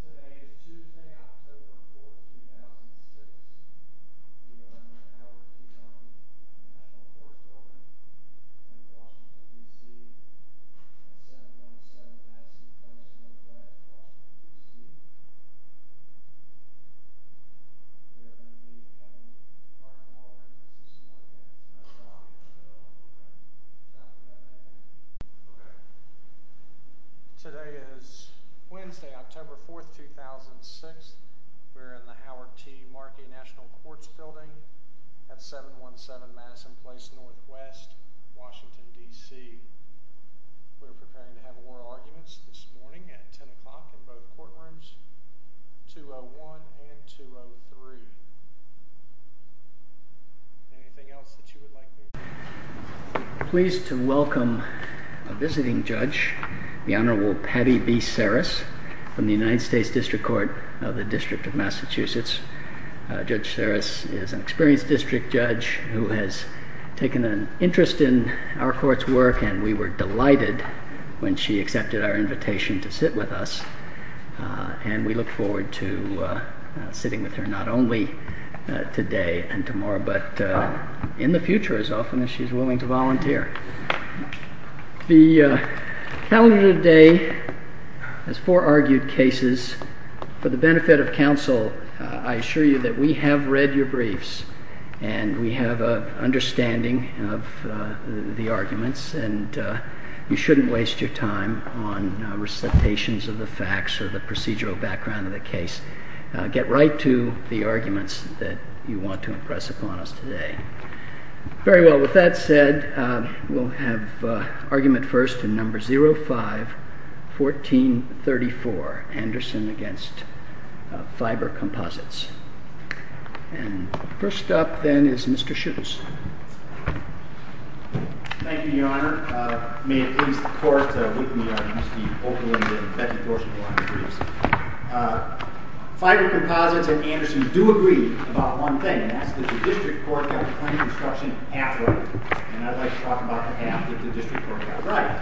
Today is Tuesday, October 4th, 2016. We are in my house with two daughters and I have four children. I live in Washington, D.C. My family's on the 7th and I have two sons and a mother that lives in Washington, D.C. We are going to do a family fun haul in just to see how it goes. Today is Wednesday, October 4th, 2006. We are in the Howard T. Markey National Courts Building at 717 Madison Place NW, Washington, D.C. We are preparing to have oral arguments this morning at 10 o'clock in both courtrooms, 201 and 203. Is there anything else that you would like to add? I'm pleased to welcome a visiting judge, the Honorable Patty B. Serris, from the United States District Court of the District of Massachusetts. Judge Serris is an experienced district judge who has taken an interest in our court's work and we were delighted when she accepted our invitation to sit with us. And we look forward to sitting with her not only today and tomorrow, but in the future as often as she is willing to volunteer. The calendar day has four argued cases. For the benefit of counsel, I assure you that we have read your briefs and we have an understanding of the arguments and you shouldn't waste your time on recitations of the facts or the procedural background of the case. Get right to the arguments that you want to impress upon us today. Very well, with that said, we'll have argument first in number 05-1434, Anderson v. Fiber Composites. First up then is Mr. Schultz. Thank you, Your Honor. May it please the Court, with me are Mr. Oakland and Becky Gorsh and the Honorable Briefs. Fiber Composites and Anderson do agree about one thing, and that's that the district court got the claim construction half right. And I'd like to talk about the half that the district court got right.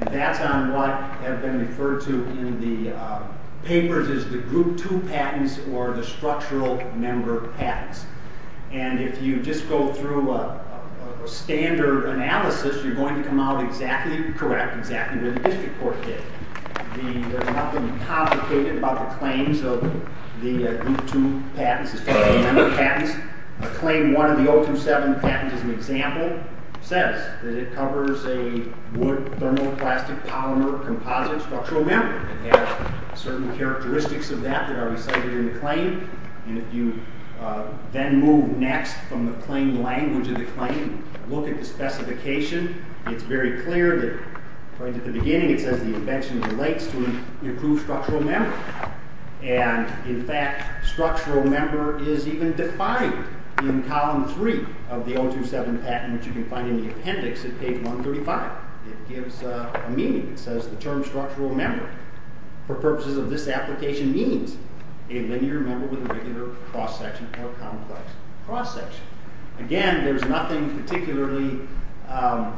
And that's on what has been referred to in the papers as the Group 2 patents or the structural member patents. And if you just go through a standard analysis, you're going to come out exactly correct, exactly where the district court did. There's nothing complicated about the claims of the Group 2 patents, the structural member patents. Claim one of the 027 patents, as an example, says that it covers a wood thermoplastic polymer composite structural member. It has certain characteristics of that that are recited in the claim. And if you then move next from the claim language of the claim, look at the specification, it's very clear that right at the beginning, it says the invention relates to an improved structural member. And in fact, structural member is even defined in column three of the 027 patent, which you can find in the appendix at page 135. It gives a meaning. It says the term structural member, for purposes of this application, means a linear member with a regular cross-section or complex cross-section. Again, there's nothing particularly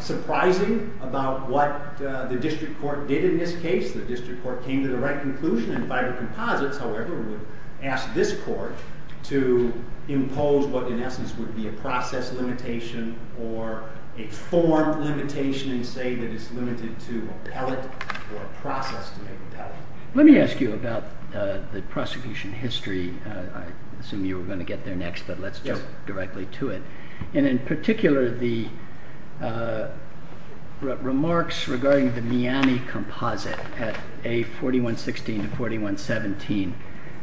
surprising about what the district court did in this case. The district court came to the right conclusion in fiber composites, however, would ask this court to impose what in essence would be a process limitation or a form limitation and say that it's limited to a pellet or a process to make a pellet. Let me ask you about the prosecution history. I assume you were going to get there next, but let's jump directly to it. And in particular, the remarks regarding the Miani composite at A4116 to 4117.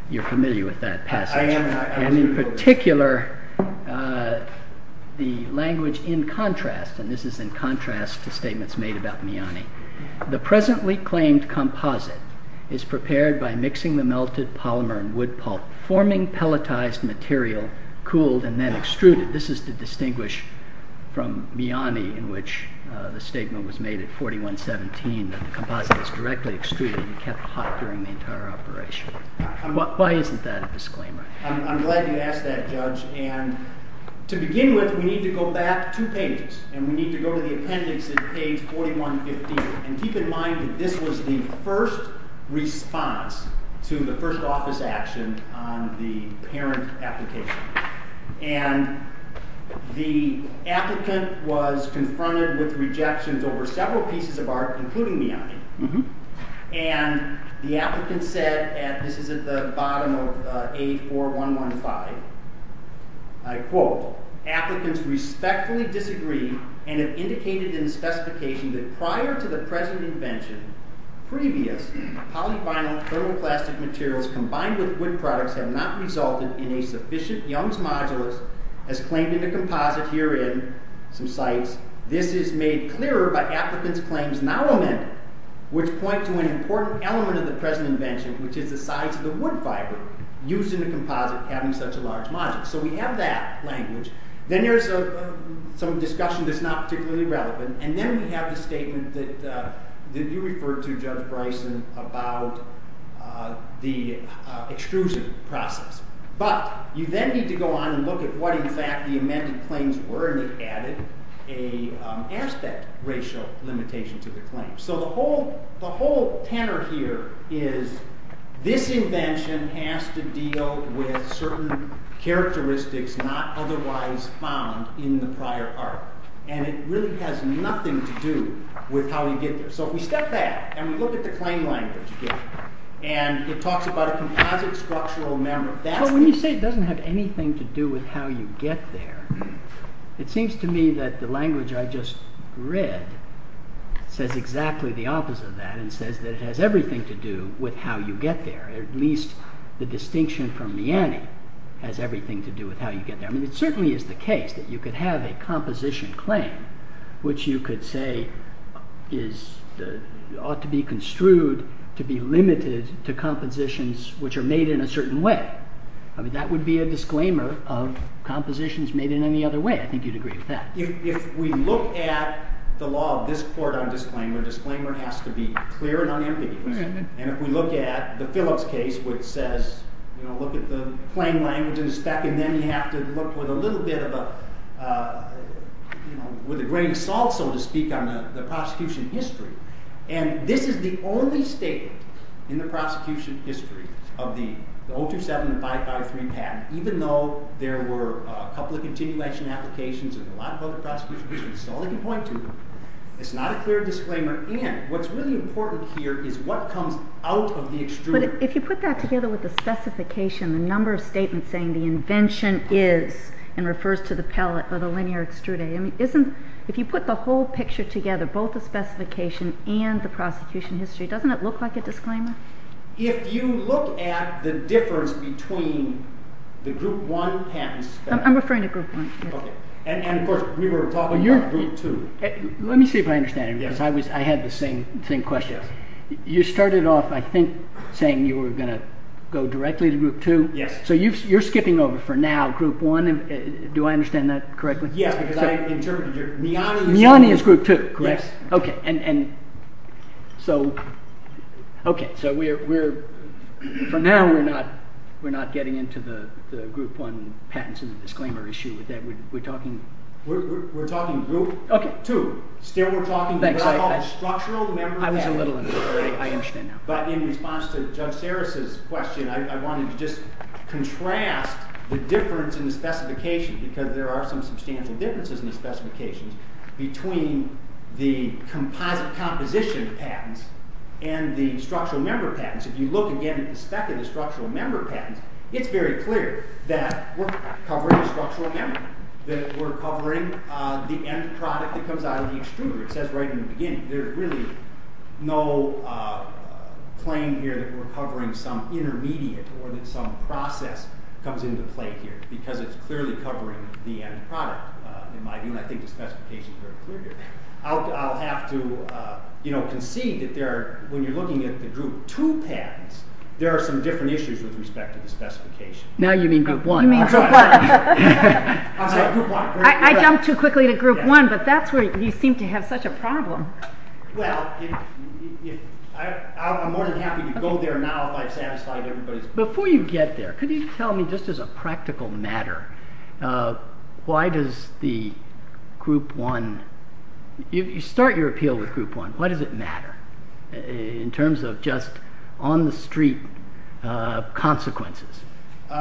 You're familiar with that passage. And in particular, the language in contrast, and this is in contrast to statements made about Miani. The presently claimed composite is prepared by mixing the melted polymer and wood pulp, forming pelletized material, cooled, and then extruded. This is to distinguish from Miani in which the statement was made at 4117 that the composite was directly extruded and kept hot during the entire operation. Why isn't that a disclaimer? I'm glad you asked that, Judge. And to begin with, we need to go back two pages. And we need to go to the appendix at page 4115. And keep in mind that this was the first response to the first office action on the parent application. And the applicant was confronted with rejections over several pieces of art, including Miani. And the applicant said, and this is at the bottom of A4115, I quote, applicants respectfully disagree and have indicated in the specification that prior to the present invention, previous polyvinyl thermoplastic materials combined with wood products have not resulted in a sufficient Young's modulus as claimed in the composite herein. This is made clearer by applicants' claims now amended, which point to an important element of the present invention, which is the size of the wood fiber used in the composite having such a large modulus. So we have that language. Then there's some discussion that's not particularly relevant. And then we have the statement that you referred to, Judge Bryson, about the extrusion process. But you then need to go on and look at what, in fact, the amended claims were. And he added an aspect ratio limitation to the claim. So the whole tenor here is this invention has to deal with certain characteristics not otherwise found in the prior art. And it really has nothing to do with how you get there. So if we step back and we look at the claim language again, and it talks about a composite structural member. So when you say it doesn't have anything to do with how you get there, it seems to me that the language I just read says exactly the opposite of that and says that it has everything to do with how you get there. At least the distinction from Miani has everything to do with how you get there. I mean, it certainly is the case that you could have a composition claim, which you could say ought to be construed to be limited to compositions which are made in a certain way. I mean, that would be a disclaimer of compositions made in any other way. I think you'd agree with that. If we look at the law of this court on disclaimer, disclaimer has to be clear and unambiguous. And if we look at the Phillips case where it says, you know, look at the claim language and the spec, and then you have to look with a little bit of a, you know, with a grain of salt, so to speak, on the prosecution history. And this is the only statement in the prosecution history of the 027553 patent, even though there were a couple of continuation applications and a lot of other prosecution cases. That's all I can point to. It's not a clear disclaimer. And what's really important here is what comes out of the extruder. But if you put that together with the specification, the number of statements saying the invention is and refers to the pellet or the linear extruder, I mean, isn't, if you put the whole picture together, both the specification and the prosecution history, doesn't it look like a disclaimer? If you look at the difference between the group one patents… I'm referring to group one. Okay. And of course we were talking about group two. Let me see if I understand. Yes. I had the same question. Yes. You started off, I think, saying you were going to go directly to group two. Yes. So you're skipping over for now group one. Do I understand that correctly? Yes, because I interpreted your… Group two, correct? Yes. Okay. So we're, for now, we're not getting into the group one patents as a disclaimer issue with that. We're talking… We're talking group two. Still we're talking about structural… I was a little… I understand now. But in response to Judge Serris' question, I wanted to just contrast the difference in the specification because there are some substantial differences in the specifications between the composite composition patents and the structural member patents. If you look again at the spec of the structural member patents, it's very clear that we're covering a structural member, that we're covering the end product that comes out of the extruder. It says right in the beginning. There's really no claim here that we're covering some intermediate or that some process comes into play here because it's clearly covering the end product. In my view, I think the specification is very clear here. I'll have to concede that when you're looking at the group two patents, there are some different issues with respect to the specification. Now you mean group one. You mean group one. I'm sorry. Group one. I jumped too quickly to group one, but that's where you seem to have such a problem. Well, I'm more than happy to go there now if I've satisfied everybody's… Before you get there, could you tell me, just as a practical matter, why does the group one… You start your appeal with group one. Why does it matter in terms of just on the street consequences?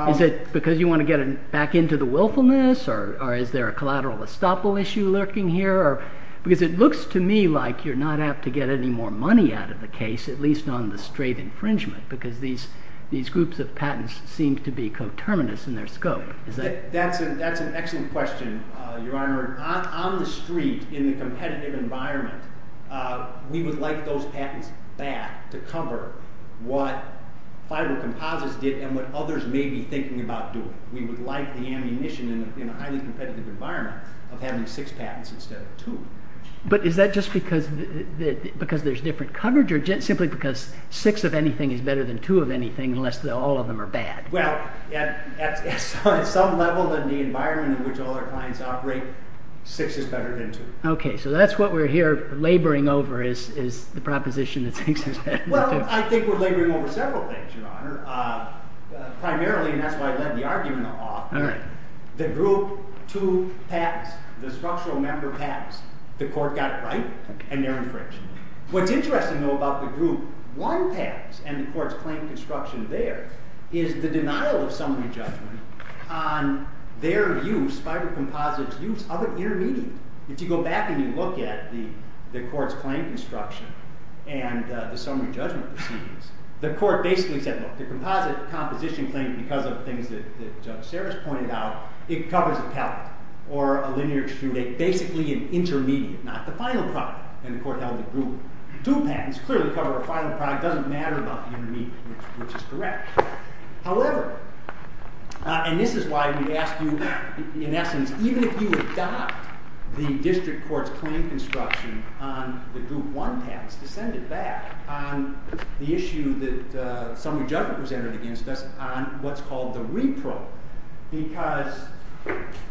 Is it because you want to get back into the willfulness or is there a collateral estoppel issue lurking here? Because it looks to me like you're not apt to get any more money out of the case, at least on the straight infringement, because these groups of patents seem to be coterminous in their scope. That's an excellent question, Your Honor. On the street, in the competitive environment, we would like those patents back to cover what fiber composites did and what others may be thinking about doing. We would like the ammunition in a highly competitive environment of having six patents instead of two. But is that just because there's different coverage or simply because six of anything is better than two of anything unless all of them are bad? Well, at some level in the environment in which all our clients operate, six is better than two. Okay, so that's what we're here laboring over is the proposition that six is better than two. Well, I think we're laboring over several things, Your Honor. Primarily, and that's why I led the argument off, the group two patents, the structural member patents, the court got it right and they're infringed. What's interesting, though, about the group one patents and the court's claim construction there is the denial of summary judgment on their use, fiber composite's use, of an intermediate. If you go back and you look at the court's claim construction and the summary judgment proceedings, the court basically said, look, the composite composition claim, because of things that Judge Sarris pointed out, it covers a pellet or a linear extrude, basically an intermediate, not the final product. And the court held the group two patents clearly cover a final product, doesn't matter about the intermediate, which is correct. However, and this is why we ask you, in essence, even if you adopt the district court's claim construction on the group one patents, to send it back on the issue that summary judgment was entered against us on what's called the repro. Because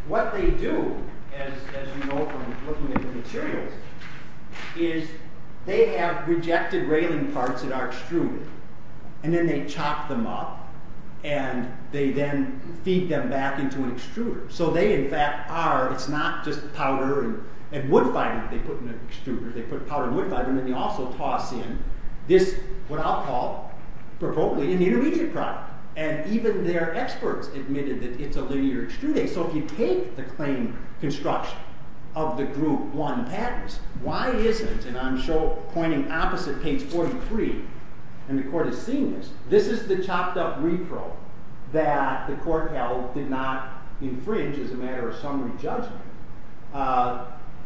what they do, as you know from looking at the materials, is they have rejected railing parts that are extruded, and then they chop them up, and they then feed them back into an extruder. So they, in fact, are, it's not just powder and wood fiber that they put in an extruder, they put powder and wood fiber and then they also toss in this, what I'll call, probably an intermediate product. And even their experts admitted that it's a linear extruding. So if you take the claim construction of the group one patents, why isn't, and I'm pointing opposite page 43, and the court has seen this, this is the chopped up repro that the court held did not infringe as a matter of summary judgment.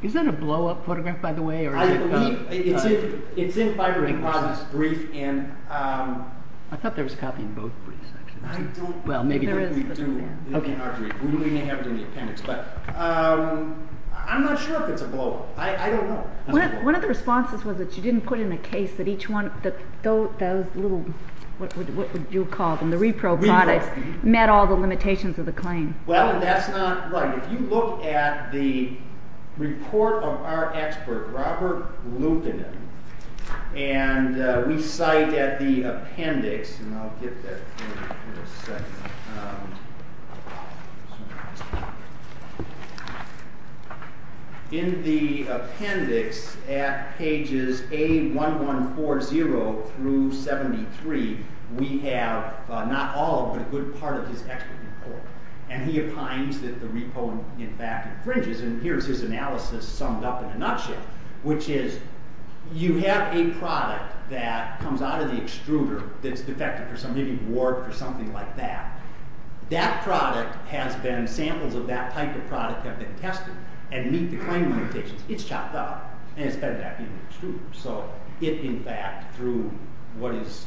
Is that a blow-up photograph, by the way? I believe it's in Fiber and Process' brief. I thought there was a copy in both briefs. I don't think there is. We may have it in the appendix, but I'm not sure if it's a blow-up. I don't know. One of the responses was that you didn't put in a case that each one, those little, what would you call them, the repro products met all the limitations of the claim. Well, that's not right. If you look at the report of our expert, Robert Lupinen, and we cite at the appendix, and I'll get that here in a second. In the appendix at pages A1140 through 73, we have not all but a good part of his expert report, and he opines that the repro, in fact, infringes, and here's his analysis summed up in a nutshell, which is you have a product that comes out of the extruder that's defective, maybe warped or something like that. That product has been, samples of that type of product have been tested and meet the claim limitations. It's chopped up, and it's fed back into the extruder. So it, in fact, through what is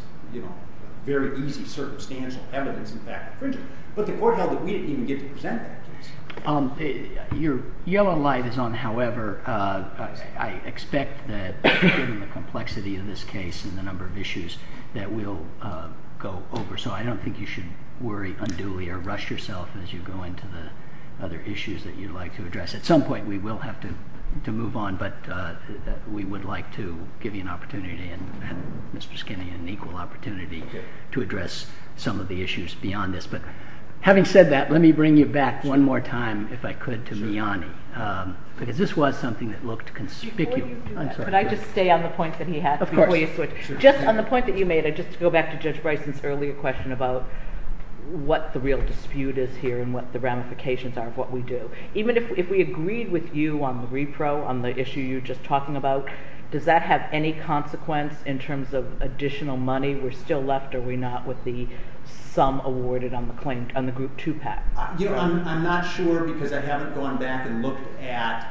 very easy, circumstantial evidence, in fact, infringes. But the court held that we didn't even get to present that case. Your yellow light is on, however, I expect that given the complexity of this case and the number of issues that we'll go over. So I don't think you should worry unduly or rush yourself as you go into the other issues that you'd like to address. At some point we will have to move on, but we would like to give you an opportunity, and Mr. Skinney an equal opportunity, to address some of the issues beyond this. But having said that, let me bring you back one more time, if I could, to Miani, because this was something that looked conspicuous. Could I just stay on the point that he had? Of course. Just on the point that you made, just to go back to Judge Bryson's earlier question about what the real dispute is here and what the ramifications are of what we do. Even if we agreed with you on the repro, on the issue you were just talking about, does that have any consequence in terms of additional money? We're still left, are we not, with the sum awarded on the group 2 PAC? I'm not sure because I haven't gone back and looked at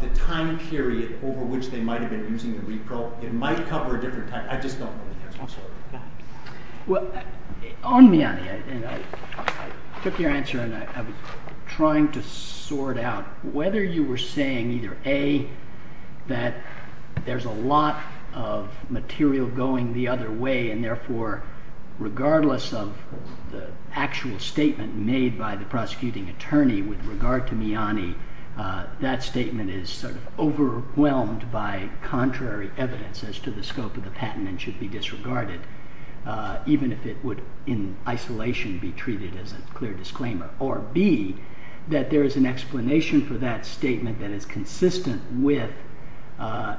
the time period over which they might have been using the repro. It might cover a different time. I just don't know the answer. Well, on Miani, I took your answer and I was trying to sort out whether you were saying either A, that there's a lot of material going the other way and therefore regardless of the actual statement made by the prosecuting attorney with regard to Miani, that statement is sort of overwhelmed by contrary evidence as to the scope of the patent and should be disregarded, even if it would in isolation be treated as a clear disclaimer, or B, that there is an explanation for that statement that is consistent with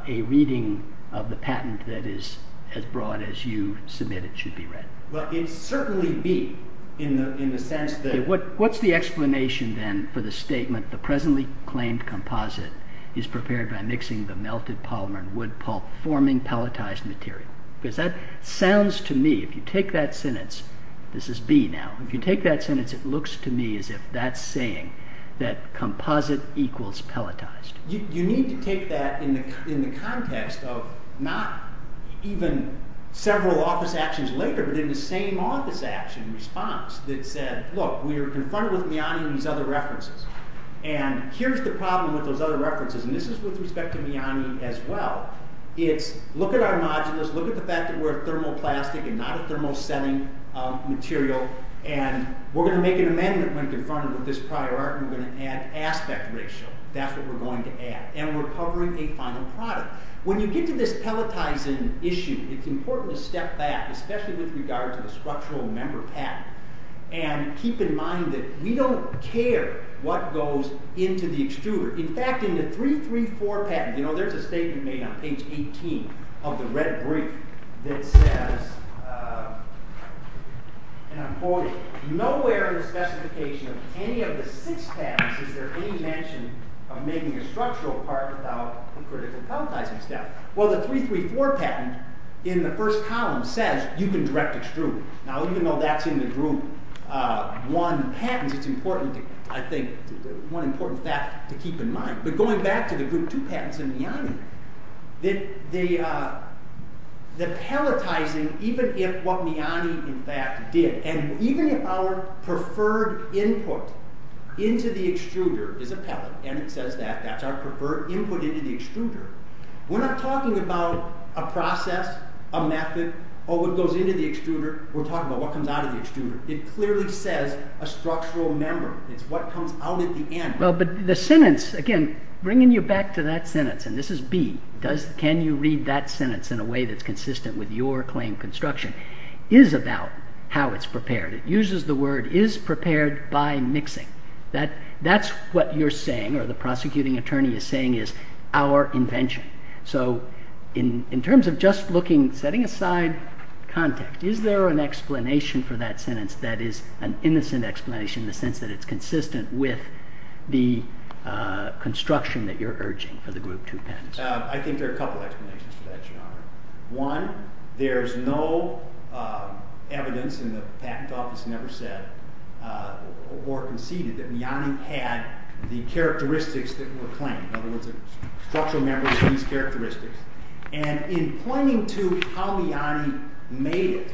a reading of the patent that is as broad as you submit it should be read. Well, it would certainly be in the sense that... What's the explanation then for the statement the presently claimed composite is prepared by mixing the melted polymer and wood pulp forming pelletized material? Because that sounds to me, if you take that sentence, this is B now, if you take that sentence, it looks to me as if that's saying that composite equals pelletized. You need to take that in the context of not even several office actions later, but in the same office action response that said, look, we are confronted with Miani and these other references, and here's the problem with those other references, and this is with respect to Miani as well, it's look at our modulus, look at the fact that we're a thermoplastic and not a thermosetting material, and we're going to make an amendment when confronted with this prior art, and we're going to add aspect ratio. That's what we're going to add. And we're covering a final product. When you get to this pelletizing issue, it's important to step back, especially with regard to the structural member patent, and keep in mind that we don't care what goes into the extruder. In fact, in the 334 patent, there's a statement made on page 18 of the red brief that says, and I'm quoting, nowhere in the specification of any of the six patents is there any mention of making a structural part without a critical pelletizing step. Well, the 334 patent in the first column says you can direct extrude. Now, even though that's in the group one patents, it's important, I think, one important fact to keep in mind. But going back to the group two patents in Miani, the pelletizing, even if what Miani, in fact, did, and even if our preferred input into the extruder is a pellet, and it says that, that's our preferred input into the extruder, we're not talking about a process, a method, or what goes into the extruder, we're talking about what comes out of the extruder. It clearly says a structural member. It's what comes out at the end. Well, but the sentence, again, bringing you back to that sentence, and this is B, can you read that sentence in a way that's consistent with your claim construction, is about how it's prepared. It uses the word, is prepared by mixing. That's what you're saying, or the prosecuting attorney is saying, is our invention. So, in terms of just looking, setting aside context, is there an explanation for that sentence that is an innocent explanation in the sense that it's consistent with the construction that you're urging for the group two patents? I think there are a couple of explanations for that, Your Honor. One, there's no evidence in the patent office never said, or conceded, that Miani had the characteristics that were claimed. In other words, a structural member of these characteristics, and in pointing to how Miani made it.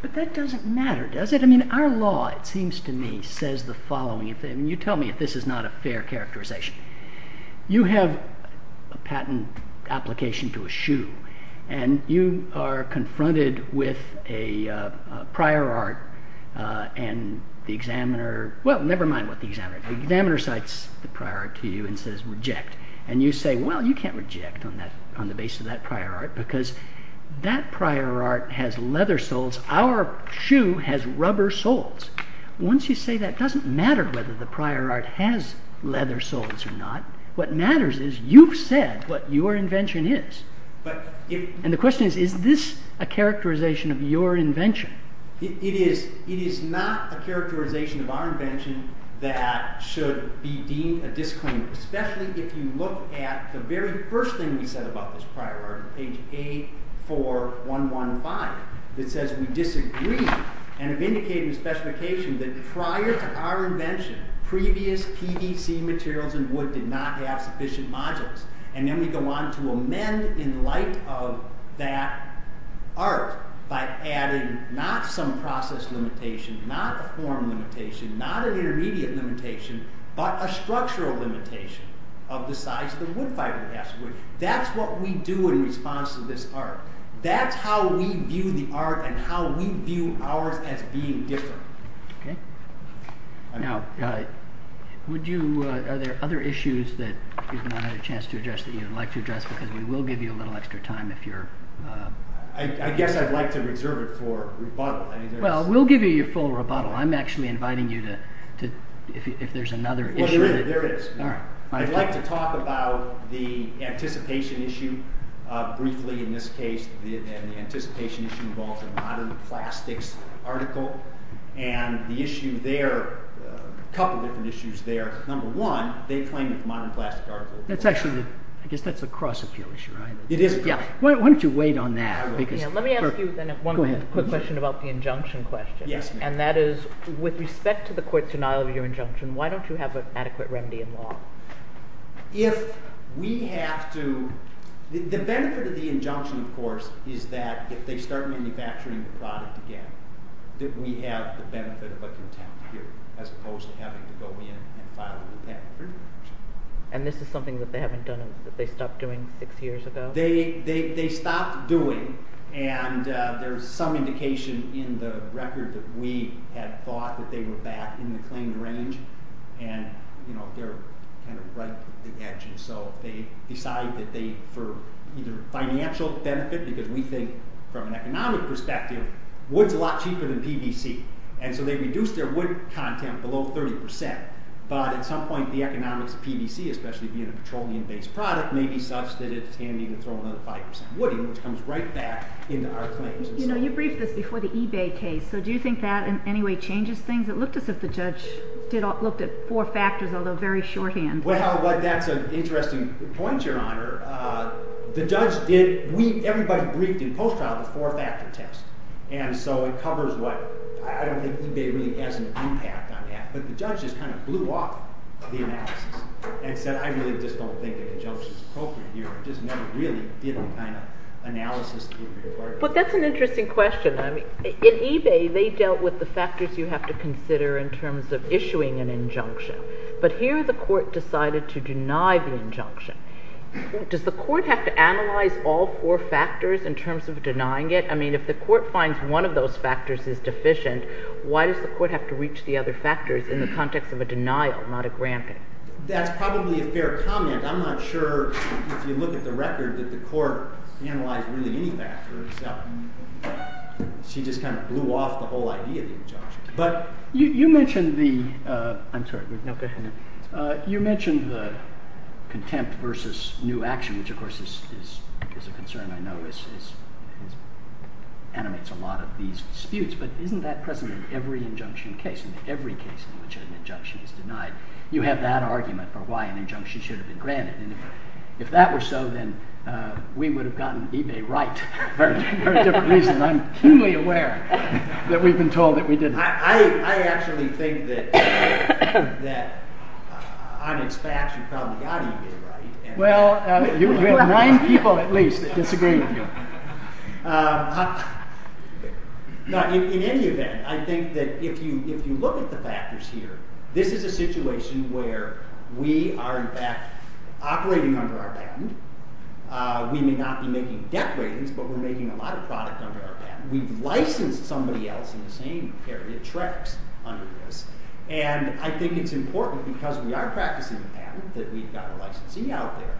But that doesn't matter, does it? I mean, our law, it seems to me, says the following. You tell me if this is not a fair characterization. You have a patent application to eschew, and you are confronted with a prior art, and the examiner, well, never mind what the examiner, the examiner cites the prior art to you and says, reject. And you say, well, you can't reject on the basis of that prior art, because that prior art has leather soles. Our shoe has rubber soles. Once you say that, it doesn't matter whether the prior art has leather soles or not. What matters is you've said what your invention is. is this a characterization of your invention? It is not a characterization of our invention that should be deemed a disclaimer, especially if you look at the very first thing we said about this prior art, page 84115, that says we disagree, and have indicated in the specification that prior to our invention, previous PVC materials and wood did not have sufficient modules. And then we go on to amend in light of that art by adding not some process limitation, not a form limitation, not an intermediate limitation, but a structural limitation of the size of the wood fiber. That's what we do in response to this art. That's how we view the art and how we view ours as being different. Okay. Now, are there other issues that you've not had a chance to address that you'd like to address, because we will give you a little extra time if you're... I guess I'd like to reserve it for rebuttal. Well, we'll give you your full rebuttal. I'm actually inviting you to... if there's another issue. Well, there is. I'd like to talk about the anticipation issue. Briefly, in this case, the anticipation issue involves a modern plastics article. And the issue there, a couple different issues there. Number one, they claim it's a modern plastic article. I guess that's a cross-appeal issue, right? It is a cross-appeal. Why don't you wait on that? Let me ask you then one quick question about the injunction question. And that is, with respect to the court's denial of your injunction, why don't you have an adequate remedy in law? If we have to... The benefit of the injunction, of course, is that if they start manufacturing the product again, that we have the benefit of contempt here, as opposed to having to go in and file a new patent. And this is something that they haven't done, that they stopped doing six years ago? They stopped doing, and there's some indication in the record that we had thought that they were back in the claim range. And, you know, they're kind of right at the edge. And so they decide that they, for either financial benefit, because we think from an economic perspective, wood's a lot cheaper than PVC. And so they reduced their wood content below 30%. But at some point, the economics of PVC, especially being a petroleum-based product, may be such that it's handy to throw another 5% wood in, which comes right back into our claims. You know, you briefed this before the eBay case. So do you think that in any way changes things? It looked as if the judge looked at four factors, although very shorthand. Well, that's an interesting point, Your Honor. The judge did... Everybody briefed in post-trial the four-factor test. And so it covers what... I don't think eBay really has an impact on that. But the judge just kind of blew off the analysis and said, I really just don't think an injunction's appropriate here. It just never really did the kind of analysis that you require. But that's an interesting question. In eBay, they dealt with the factors you have to consider in terms of issuing an injunction. But here the court decided to deny the injunction. Does the court have to analyze all four factors in terms of denying it? I mean, if the court finds one of those factors is deficient, why does the court have to reach the other factors in the context of a denial, not a granting? That's probably a fair comment. I'm not sure, if you look at the record, that the court analyzed really any factor itself. She just kind of blew off the whole idea of the injunction. But you mentioned the... I'm sorry, we have no question here. You mentioned the contempt versus new action, which, of course, is a concern I know as it animates a lot of these disputes. But isn't that present in every injunction case, in every case in which an injunction is denied? You have that argument for why an injunction should have been granted. And if that were so, then we would have gotten eBay right for a different reason. I'm keenly aware that we've been told that we didn't. I actually think that on its facts, you probably got eBay right. Well, you have nine people at least that disagree with you. In any event, I think that if you look at the factors here, this is a situation where we are in fact... operating under our patent. We may not be making debt ratings, but we're making a lot of product under our patent. We've licensed somebody else in the same area, Trex, under this. And I think it's important, because we are practicing a patent, that we've got a licensee out there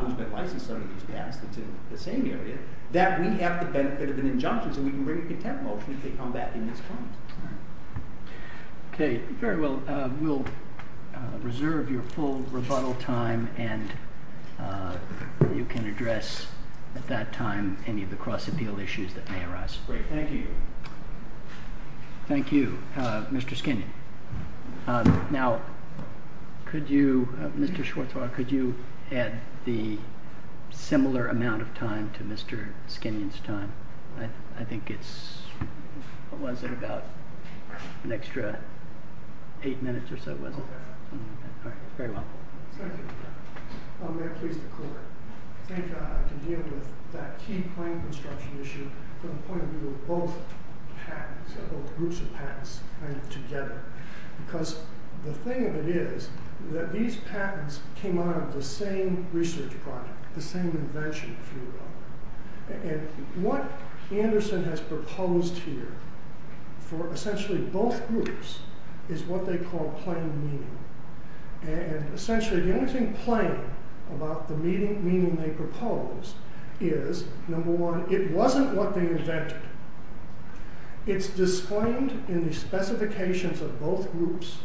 who's been licensed under these patents that's in the same area, that we have the benefit of an injunction so we can bring a contempt motion to combat the misconduct. Okay. Very well. We'll reserve your full rebuttal time, and you can address at that time any of the cross-appeal issues that may arise. Great. Thank you. Thank you, Mr. Skinion. Now, could you... Mr. Schwarzwald, could you add the similar amount of time to Mr. Skinion's time? I think it's... What was it, about an extra 8 minutes or so, was it? Okay. All right. Very well. Thank you. May I please declare? I think I can deal with that key point construction issue from the point of view of both patents, both groups of patents, kind of together. Because the thing of it is that these patents came out of the same research project, the same invention, if you will. And what Henderson has proposed here for essentially both groups is what they call plain meaning. And essentially, the only thing plain about the meaning they propose is, number one, it wasn't what they invented. It's disclaimed in the specifications of both groups,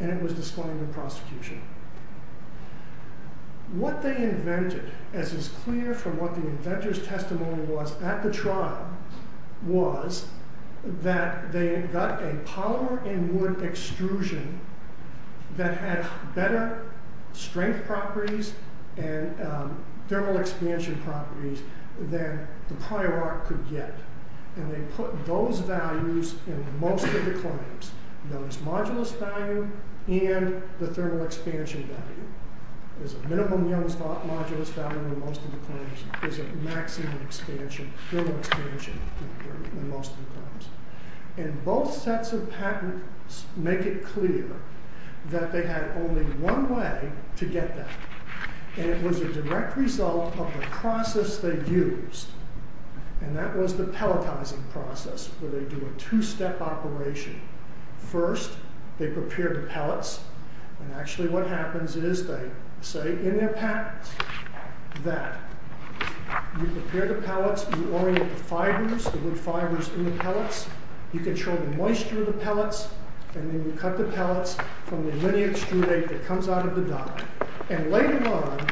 and it was disclaimed in prosecution. What they invented, as is clear from what the inventor's testimony was at the trial, was that they got a polymer and wood extrusion that had better strength properties and thermal expansion properties than the prior art could get. And they put those values in most of the claims, those modulus value and the thermal expansion value. There's a minimum modulus value in most of the claims. There's a maximum expansion, thermal expansion in most of the claims. And both sets of patents make it clear that they had only one way to get that. And it was a direct result of the process they used. And that was the pelletizing process, where they do a two-step operation. First, they prepare the pellets. And actually what happens is they say in their patent that you prepare the pellets, you orient the fibers, the wood fibers in the pellets, you control the moisture of the pellets, and then you cut the pellets from the linear extrudate that comes out of the die. And later on,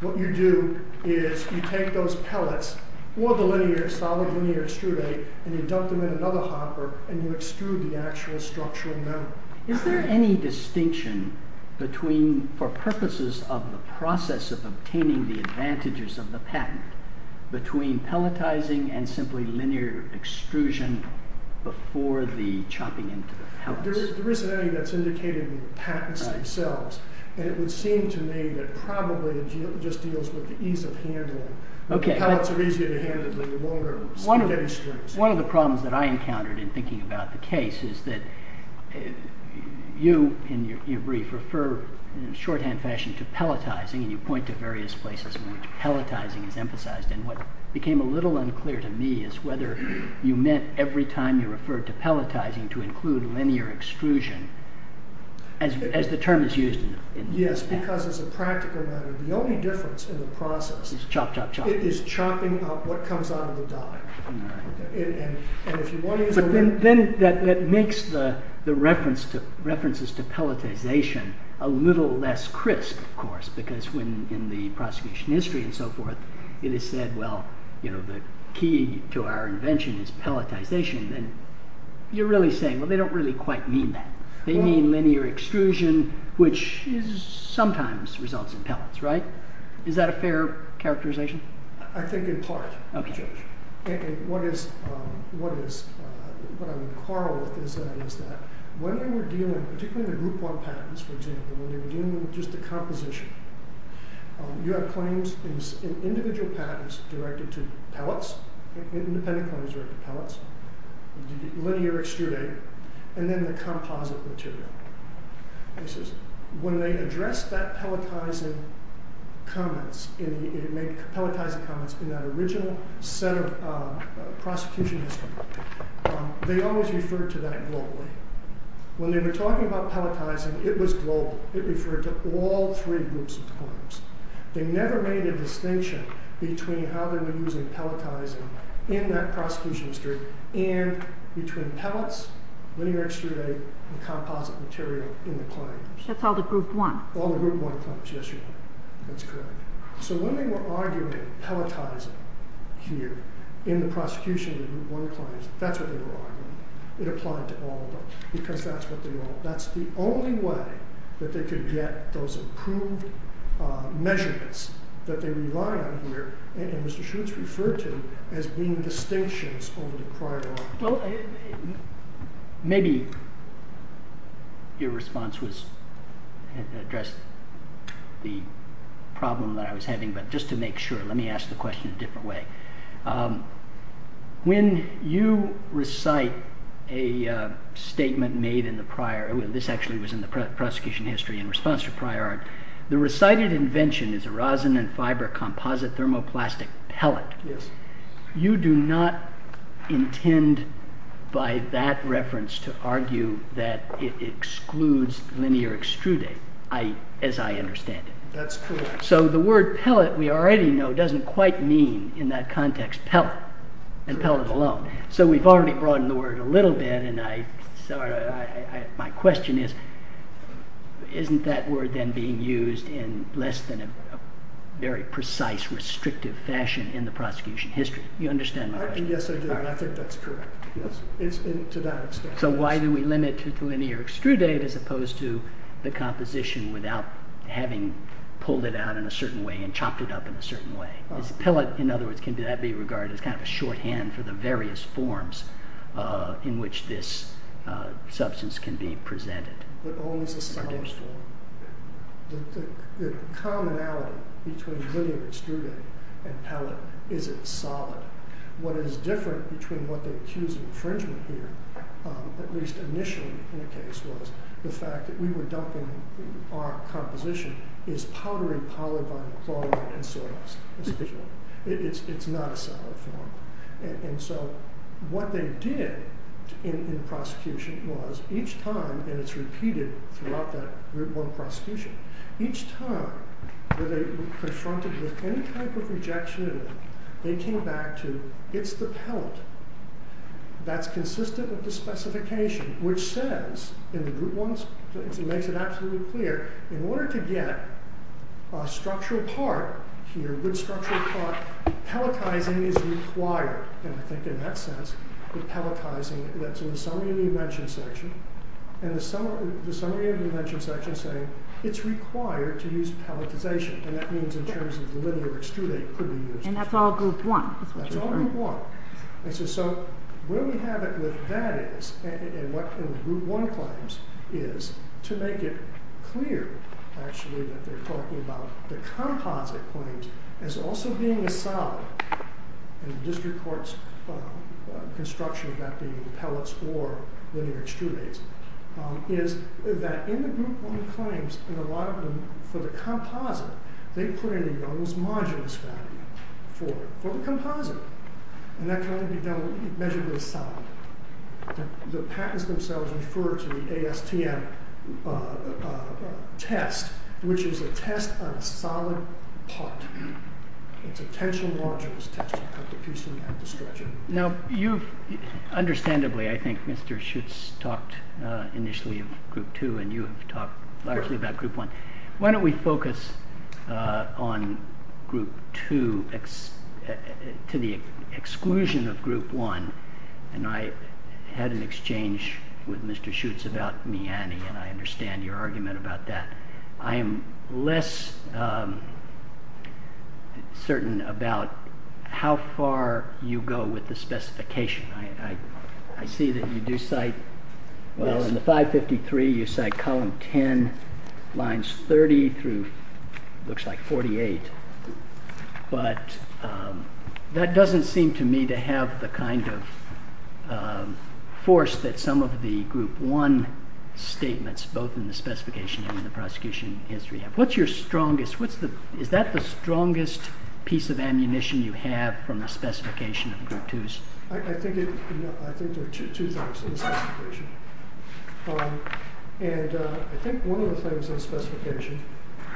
what you do is you take those pellets or the linear, solid linear extrudate, and you dump them in another hopper, and you extrude the actual structural metal. Is there any distinction between, for purposes of the process of obtaining the advantages of the patent, between pelletizing and simply linear extrusion before the chopping into the pellets? There isn't anything that's indicated in the patents themselves. And it would seem to me that probably it just deals with the ease of handling. The pellets are easier to handle, they're no longer spaghetti strings. One of the problems that I encountered in thinking about the case is that you, in your brief, refer in a shorthand fashion to pelletizing, and you point to various places in which pelletizing is emphasized. And what became a little unclear to me is whether you meant every time you referred to pelletizing to include linear extrusion, as the term is used in the patent. Yes, because as a practical matter, the only difference in the process is chopping up what comes out of the die. Then that makes the references to pelletization a little less crisp, of course, because in the prosecution history and so forth, it is said, well, the key to our invention is pelletization. You're really saying, well, they don't really quite mean that. They mean linear extrusion, which sometimes results in pellets, right? Is that a fair characterization? I think in part, Judge. And what I would quarrel with is that when you were dealing, particularly in the Group 1 patents, for example, when you were dealing with just the composition, you have claims in individual patents directed to pellets, independent claims directed to pellets, linear extrusion, and then the composite material. When they address that pelletizing comments, when they make pelletizing comments in that original set of prosecution history, they always refer to that globally. When they were talking about pelletizing, it was global. It referred to all three groups of claims. They never made a distinction between how they were using pelletizing in that prosecution history and between pellets, linear extrusion, and composite material in the claim. That's all the Group 1? All the Group 1 claims, yes, Your Honor. That's correct. So when they were arguing pelletizing here in the prosecution of the Group 1 claims, that's what they were arguing. It applied to all of them because that's what they wrote. That's the only way that they could get those approved measurements that they rely on here, and Mr. Schutz referred to as being distinctions over the prior argument. Well, maybe your response was to address the problem that I was having, but just to make sure, let me ask the question a different way. When you recite a statement made in the prior, this actually was in the prosecution history in response to prior art, the recited invention is a rosin and fiber composite thermoplastic pellet. Yes. You do not intend by that reference to argue that it excludes linear extruding, as I understand it. That's correct. So the word pellet we already know doesn't quite mean in that context pellet, and pellet alone. So we've already broadened the word a little bit, and my question is, isn't that word then being used in less than a very precise, restrictive fashion in the prosecution history? You understand my question? Yes, I do, and I think that's correct. Yes, to that extent. So why do we limit to linear extruded as opposed to the composition without having pulled it out in a certain way and chopped it up in a certain way? Pellet, in other words, can that be regarded as kind of a shorthand for the various forms in which this substance can be presented? It owns a solid form. The commonality between linear extruded and pellet is it's solid. What is different between what they accuse of infringement here, at least initially in the case, was the fact that we were dumping our composition as powdery polyvinyl chloride and so on. It's not a solid form. And so what they did in the prosecution was each time, and it's repeated throughout that one prosecution, each time that they were confronted with any type of rejection in it, they came back to it's the pellet that's consistent with the specification, which says, and the group one makes it absolutely clear, in order to get a structural part here, a good structural part, pelletizing is required. And I think in that sense, the pelletizing, that's in the summary of the invention section, and the summary of the invention section saying it's required to use pelletization. And that means in terms of the linear extruded that could be used. And that's all group one. That's all group one. And so where we have it with that is, and what group one claims is, to make it clear, actually, that they're talking about the composite claims as also being a solid, in the district court's construction about the pellets or linear extrudates, is that in the group one claims, and a lot of them for the composite, they put in an almost modulus value for the composite. And that can only be measured with a solid. The patents themselves refer to the ASTM test, which is a test on a solid part. It's a tensile modulus test to cut the piecing and the stretching. Now you've, understandably, I think Mr. Schutz talked initially of group two, and you have talked largely about group one. Why don't we focus on group two, to the exclusion of group one. And I had an exchange with Mr. Schutz about Miani, and I understand your argument about that. I am less certain about how far you go with the specification. I see that you do cite, well, in the 553, you cite column 10, lines 30 through, looks like 48. But that doesn't seem to me to have the kind of force that some of the group one statements, both in the specification and in the prosecution history have. What's your strongest, is that the strongest piece of ammunition you have from the specification of group twos? I think there are two thoughts on the specification. And I think one of the things on the specification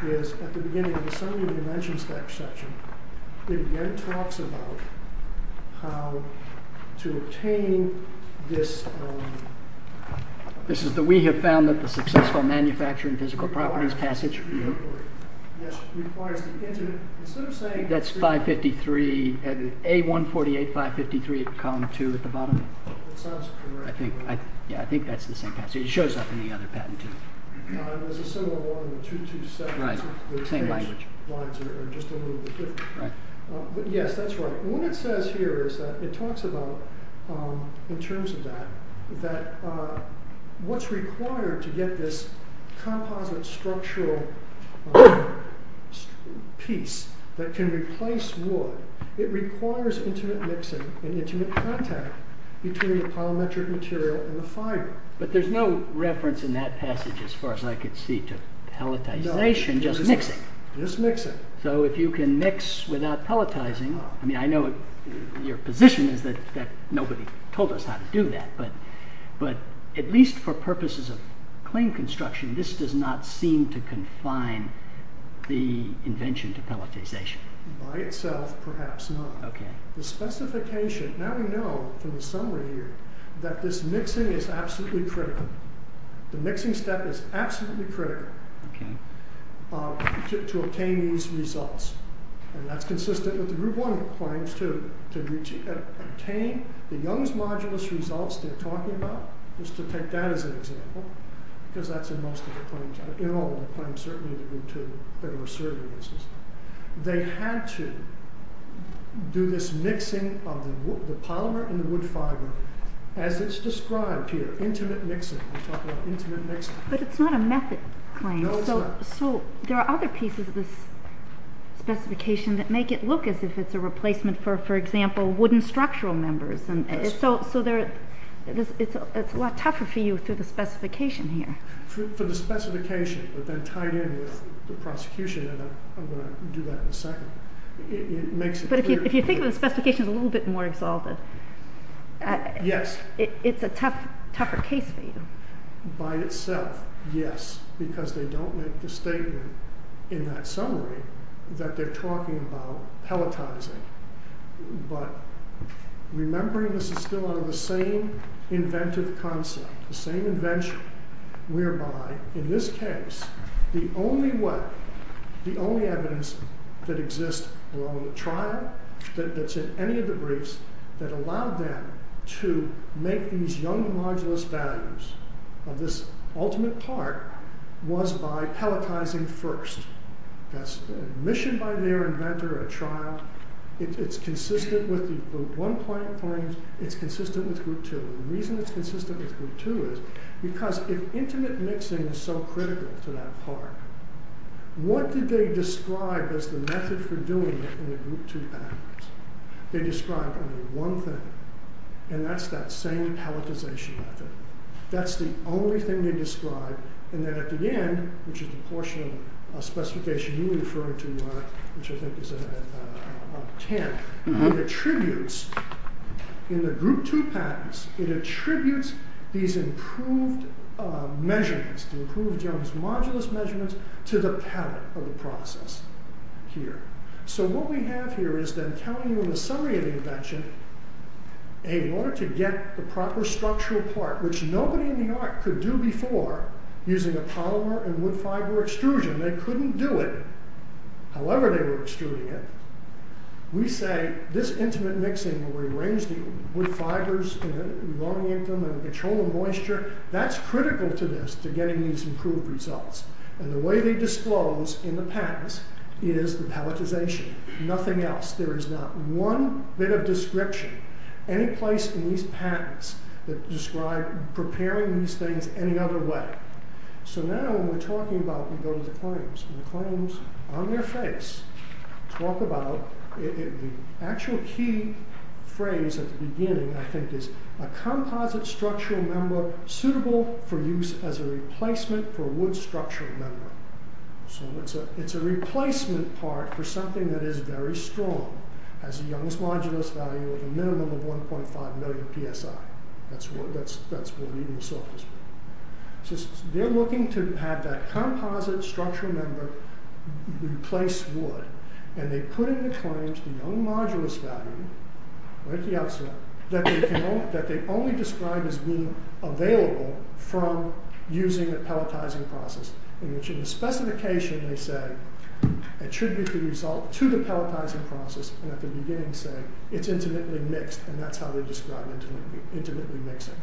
is at the beginning of the summary of the dimensions section, it again talks about how to obtain this, this is the we have found that the successful manufacturing physical properties passage, that's 553, A148, 553, column two at the bottom. I think that's the same passage. It shows up in the other patent too. There's a similar one in 227. Right. The same language. But yes, that's right. What it says here is that it talks about in terms of that, that what's required to get this composite structural piece that can replace wood, it requires intimate mixing and intimate contact between the polymetric material and the fiber. But there's no reference in that passage as far as I could see to pelletization, just mixing. Just mixing. So if you can mix without pelletizing, I mean, I know your position is that nobody told us how to do that, but at least for purposes of clean construction, this does not seem to confine the invention to pelletization. By itself, perhaps not. Okay. The specification, now we know from the summary here, that this mixing is absolutely critical. The mixing step is absolutely critical to obtain these results. And that's consistent with the group one claims too, to obtain the Young's modulus results they're talking about, just to take that as an example, because that's in most of the claims, in all of the claims certainly of the group two that we're serving in this system. They had to do this mixing of the polymer and the wood fiber as it's described here, intimate mixing. We're talking about intimate mixing. But it's not a method claim. No, it's not. So there are other pieces of this specification that make it look as if it's a replacement for, for example, wooden structural members. So it's a lot tougher for you through the specification here. For the specification, but then tied in with the prosecution, and I'm going to do that in a second. But if you think of the specifications a little bit more exalted. Yes. It's a tougher case for you. By itself, yes. Because they don't make the statement in that summary that they're talking about pelletizing. But remembering this is still under the same inventive concept, the same invention, whereby in this case, the only way, the only evidence that exists along the trial that's in any of the briefs that allowed them to make these young modulus values of this ultimate part was by pelletizing first. That's a mission by their inventor, a trial. It's consistent with the group 1 point, it's consistent with group 2. The reason it's consistent with group 2 is because if intimate mixing is so critical to that part, what did they describe as the method for doing it in the group 2 papers? They described only one thing, and that's that same pelletization method. That's the only thing they described, and then at the end, which is the portion of specification you referred to, Mark, which I think is at 10, it attributes, in the group 2 patents, it attributes these improved measurements, the improved young modulus measurements to the pellet of the process here. So what we have here is them telling you in the summary of the invention, in order to get the proper structural part, which nobody in New York could do before using a polymer and wood fiber extrusion, they couldn't do it however they were extruding it, we say this intimate mixing where we arrange the wood fibers and we elongate them and we control the moisture, that's critical to this, to getting these improved results. And the way they disclose in the patents is the pelletization, nothing else. There is not one bit of description, any place in these patents that describe preparing these things any other way. So now when we're talking about, we go to the claims, and the claims on their face talk about, the actual key phrase at the beginning, I think, is a composite structural member suitable for use as a replacement for a wood structural member. So it's a replacement part for something that is very strong, has a Young's modulus value of a minimum of 1.5 million PSI. That's what we saw. So they're looking to have that composite structural member replace wood, and they put in the claims the Young modulus value, right at the outside, that they only describe as being available from using a pelletizing process, in which in the specification they say it should be the result to the pelletizing process, and at the beginning say it's intimately mixed, and that's how they describe intimately mixing.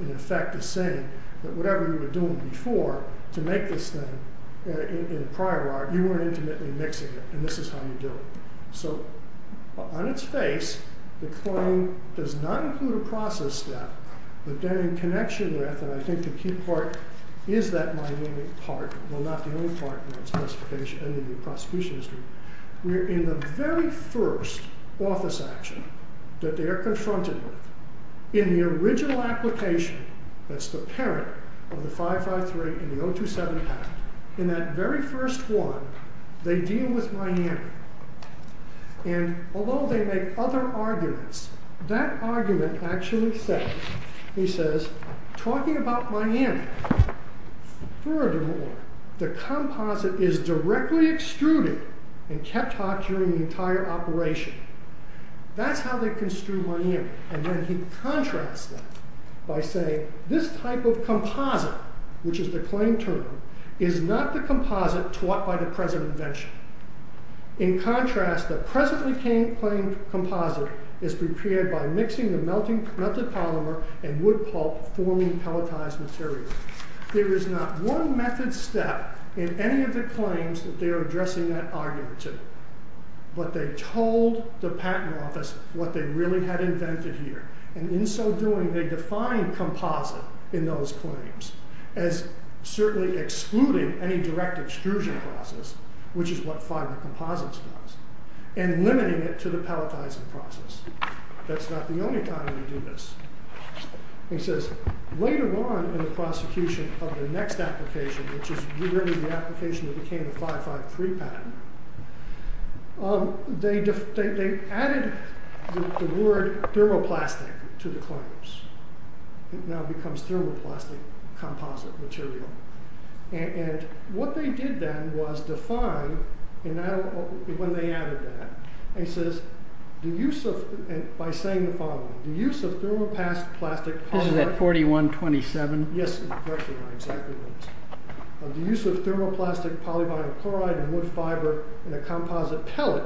In effect, they're saying that whatever you were doing before to make this thing, in a prior art, you weren't intimately mixing it, and this is how you do it. So on its face, the claim does not include a process step, but then in connection with, and I think the key part is that mynamic part, well, not the only part in the prosecution history, in the very first office action that they're confronted with, in the original application, that's the parent of the 553 and the 027 Act, in that very first one, they deal with mynamic. And although they make other arguments, that argument actually says, talking about mynamic, furthermore, the composite is directly extruded and kept hot during the entire operation. That's how they construe mynamic, and then he contrasts that by saying, this type of composite, which is the claim term, is not the composite taught by the present invention. In contrast, the presently claimed composite is prepared by mixing the melted polymer and wood pulp, forming pelletized material. There is not one method step in any of the claims that they're addressing that argument to. But they told the patent office what they really had invented here, and in so doing, they defined composite in those claims as certainly excluding any direct extrusion process, which is what fiber composites does, and limiting it to the pelletizing process. That's not the only time they do this. He says, later on in the prosecution of the next application, which is really the application that became the 553 patent, they added the word thermoplastic to the claims. It now becomes thermoplastic composite material. And what they did then was define, when they added that, by saying the following, the use of thermoplastic polyvinyl chloride and wood fiber in a composite pellet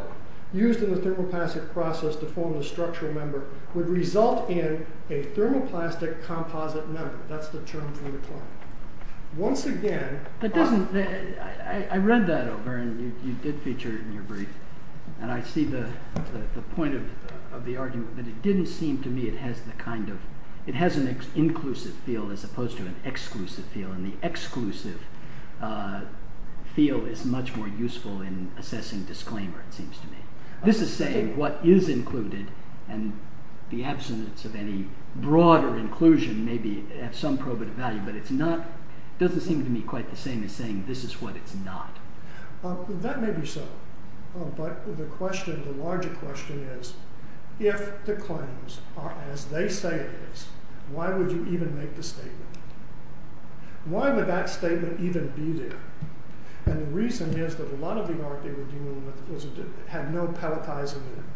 used in the thermoplastic process to form the structural member would result in a thermoplastic composite member. That's the term for the claim. Once again... I read that over, and you did feature it in your brief, and I see the point of the argument but it didn't seem to me it has the kind of... it has an inclusive feel as opposed to an exclusive feel, and the exclusive feel is much more useful in assessing disclaimer, it seems to me. This is saying what is included and the absence of any broader inclusion may be at some probative value, but it's not... it doesn't seem to me quite the same as saying this is what it's not. That may be so, but the larger question is, if the claims are as they say it is, why would you even make the statement? Why would that statement even be there? And the reason is that a lot of the art they were dealing with had no pelletizing in it.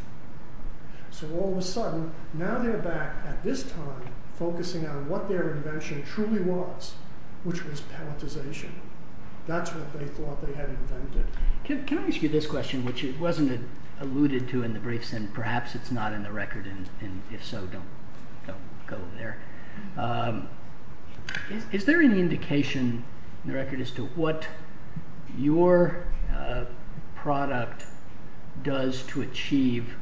So all of a sudden, now they're back at this time focusing on what their invention truly was, which was pelletization. That's what they thought they had invented. Can I ask you this question, which wasn't alluded to in the briefs, and perhaps it's not in the record, and if so, don't go there. Is there any indication in the record as to what your product does to achieve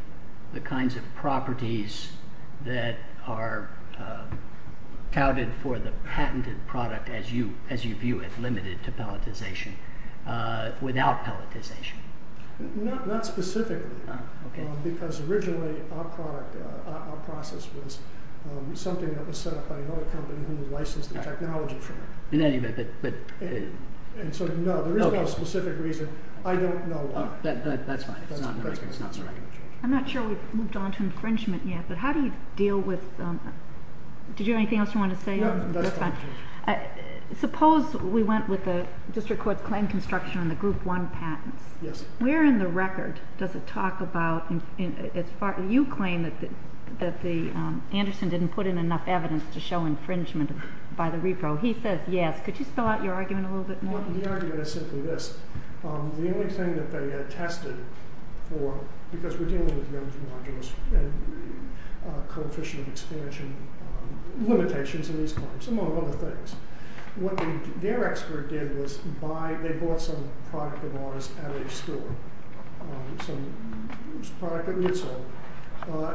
the kinds of properties that are touted for the patented product as you view it, limited to pelletization, without pelletization? Not specifically, because originally our process was something that was set up by another company who licensed the technology from us. So no, there is no specific reason. I don't know why. I'm not sure we've moved on to infringement yet, but how do you deal with... Did you have anything else you wanted to say? Suppose we went with the district court's claim construction on the group one patents. Where in the record does it talk about... You claim that Anderson didn't put in enough evidence to show infringement by the repro. He says yes. Could you spell out your argument a little bit more? The argument is simply this. The only thing that they had tested for, because we're dealing with numbers and modules and coefficient expansion limitations in these claims, among other things. What their expert did was buy... They bought some product of ours at a store, some product at Ritzel,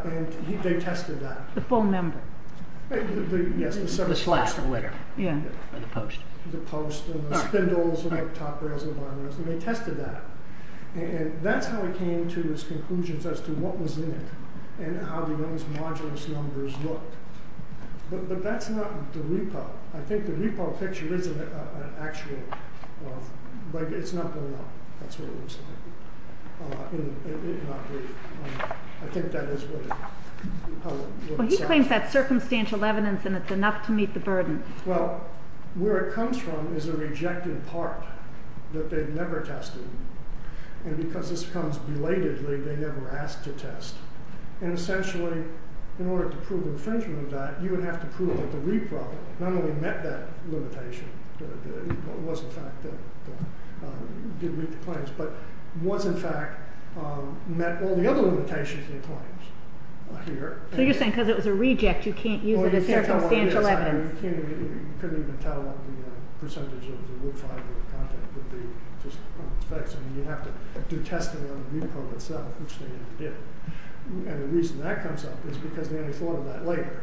and they tested that. The full number? Yes. The post and the spindles and the top reservoirs. They tested that. That's how he came to his conclusions as to what was in it and how those modulus numbers looked. But that's not the repro. I think the repro picture is an actual... It's not going up. That's what it looks like. I think that is what it says. He claims that's circumstantial evidence and it's enough to meet the burden. Where it comes from is a rejected part that they've never tested. Because this comes belatedly, they never asked to test. Essentially, in order to prove infringement of that, you would have to prove that the repro not only met that limitation, but was in fact met all the other limitations in the claims. So you're saying because it was a reject, you can't use it as circumstantial evidence. You couldn't even tell what the percentage of the wood fiber would be just from the specs. You'd have to do testing on the repro itself, which they never did. The reason that comes up is because they only thought of that later.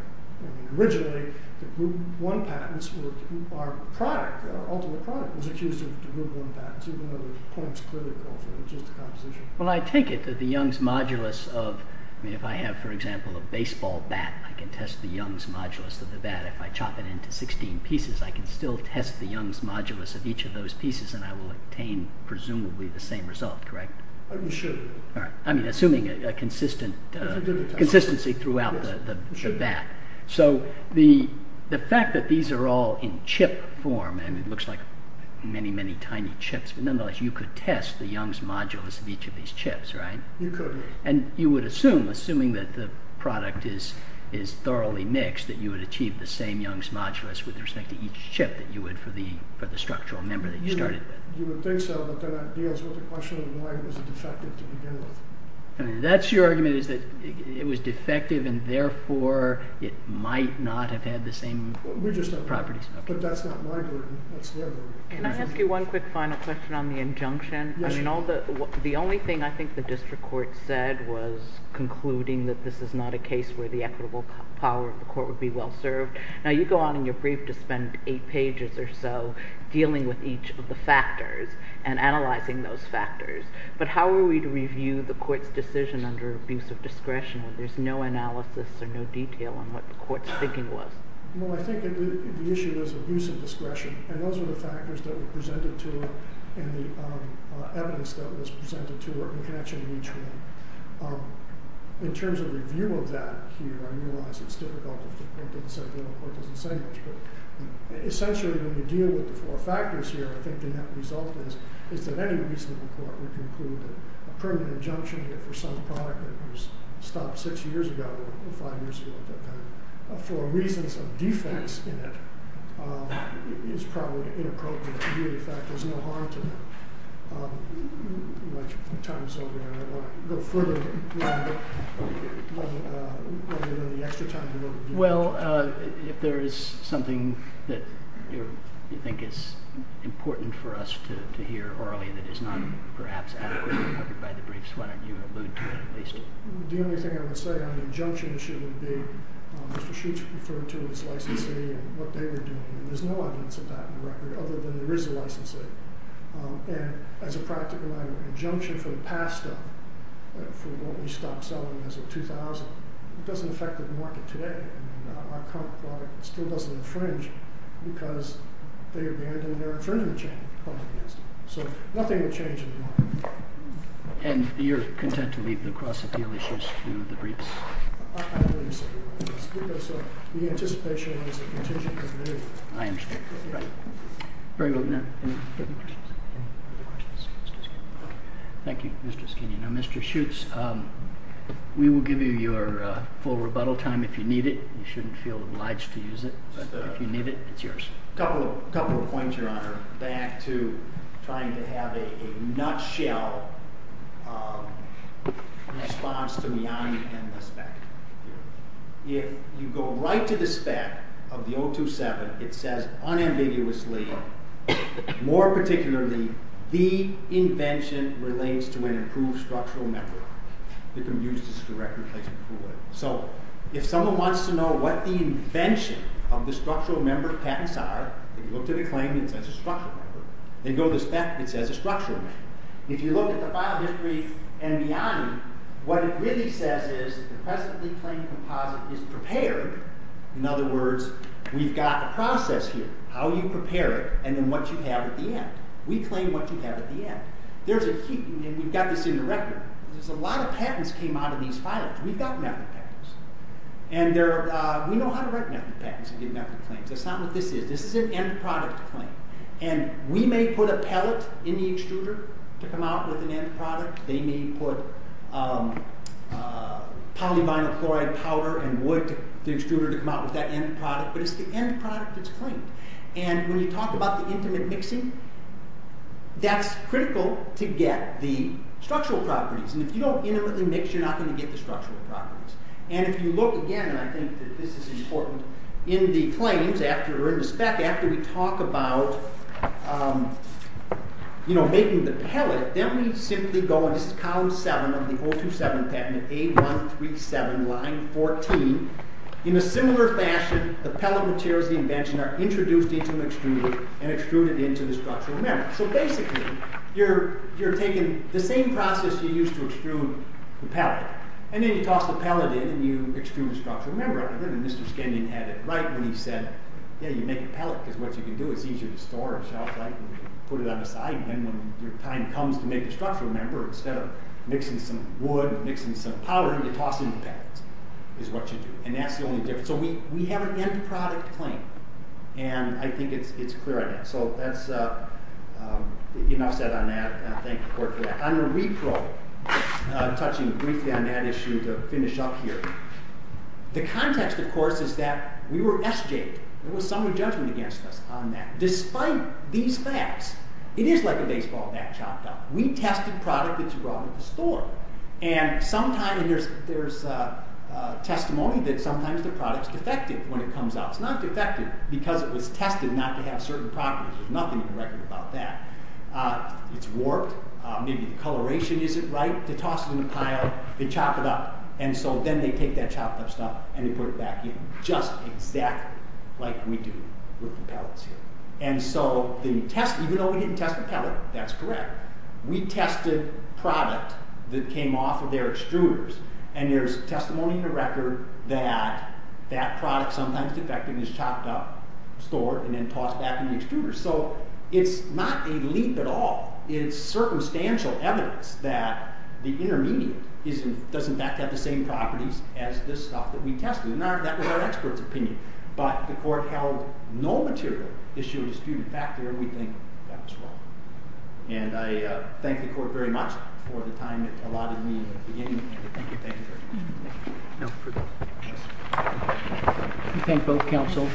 Originally, the group 1 patents were our product. Our ultimate product was accused of group 1 patents, even though the claims clearly go for just the composition. Well, I take it that the Young's modulus of... If I have, for example, a baseball bat, I can test the Young's modulus of the bat. If I chop it into 16 pieces, I can still test the Young's modulus of each of those pieces and I will obtain, presumably, the same result, correct? You should. I mean, assuming a consistency throughout the bat. So the fact that these are all in chip form, and it looks like many, many tiny chips, but nonetheless, you could test the Young's modulus of each of these chips, right? You could. And you would assume, assuming that the product is thoroughly mixed, that you would achieve the same Young's modulus with respect to each chip that you would for the structural member that you started with. You would think so, but then that deals with the question of why it was defective to begin with. That's your argument, is that it was defective and therefore it might not have had the same properties. But that's not my group. Can I ask you one quick final question on the injunction? The only thing I think the district court said was concluding that this is not a case where the equitable power of the court would be well served. Now, you go on in your brief to spend eight pages or so dealing with each of the factors and analyzing those factors. But how are we to review the court's decision under abuse of discretion when there's no analysis or no detail on what the court's thinking was? Well, I think the issue is abuse of discretion. And those are the factors that were presented to it and the evidence that was presented to it and the connection to each one. In terms of review of that here, I realize it's difficult if the court doesn't say much. Essentially, when you deal with the four factors here, I think the net result is that any reasonable court would conclude that a permanent injunction for some product that was stopped six years ago or five years ago for reasons of defects in it is probably inappropriate. In fact, there's no harm to that. Well, if there is something that you think is important for us to hear orally that is not perhaps adequately covered by the briefs, why don't you allude to it at least? The only thing I would say on the injunction should be Mr. Sheets referred to as licensee and what they were doing. And there's no evidence of that in the record other than there is a licensee. And as a practical matter, an injunction from the past for what we stopped selling as of 2000 doesn't affect the market today. Our current product still doesn't infringe because they abandoned their infringement chain. So nothing will change in the market. And you're content to leave the cross-appeal issues to the briefs? I believe so, yes, because the anticipation is a contingent agreement. I understand. Any further questions? Thank you, Mr. Skinner. Now, Mr. Sheets, we will give you your full rebuttal time if you need it. You shouldn't feel obliged to use it. If you need it, it's yours. A couple of points, Your Honor, back to trying to have a nutshell response to the omnibus spec. If you go right to the spec of the 027, it says unambiguously more particularly the invention relates to an improved structural metric. So if someone wants to know what the invention of the structural metric patents are, if you go to the claim, it says a structural metric. If you go to the spec, it says a structural metric. If you look at the file history and beyond, what it really says is the presently claimed composite is prepared. In other words, we've got the process here, how you prepare it, and then what you have at the end. We claim what you have at the end. We've got this in the record. A lot of patents came out of these files. We've got metric patents. We know how to write metric patents and get metric claims. That's not what this is. This is an end product claim. We may put a pellet in the extruder to come out with an end product. They may put polyvinyl chloride powder and wood to the extruder to come out with that end product, but it's the end product that's claimed. When you talk about the intimate mixing, that's critical to get the structural properties. If you don't intimately mix, you're not going to get the structural properties. If you look again, and I think this is important, in the claims, or in the spec, after we talk about making the pellet, then we simply go into column 7 of the 027 patent, A137, line 14. In a similar fashion, the pellet materials, the invention, are introduced into the extruder and extruded into the structural member. Basically, you're taking the same process you used to extrude the pellet. Then you toss the pellet in and you extrude the structural member. Mr. Skenyon had it right when he said, yeah, you make a pellet because what you can do, it's easier to store and shelf life and put it on the side. When your time comes to make the structural member, instead of mixing some wood and mixing some powder, you toss in the pellet is what you do. That's the only difference. We have an end product claim, and I think it's Enough said on that. I thank the court for that. I'm a repro touching briefly on that issue to finish up here. The context, of course, is that we were SJ'd. There was some judgment against us on that. Despite these facts, it is like a baseball bat chopped up. We tested product that you brought into the store. There's testimony that sometimes the product's defective when it comes out. It's not defective because it was tested not to have certain properties. There's nothing in the record about that. It's warped. Maybe the coloration isn't right. They toss it in the pile. They chop it up. Then they take that chopped up stuff and they put it back in just exactly like we do with the pellets here. Even though we didn't test the pellet, that's correct. We tested product that came off of their extruders. There's testimony in the record that that product, sometimes defective, is chopped up, stored, and then tossed back in the extruder. It's not a leap at all. It's circumstantial evidence that the intermediate does in fact have the same properties as this stuff that we tested. That was our expert's opinion. The court held no material issue of dispute. In fact, we think that was wrong. I thank the court very much for the time it allotted me at the beginning. Thank you. Thank you. Thank you both counsel.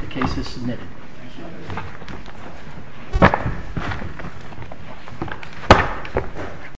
The case is submitted.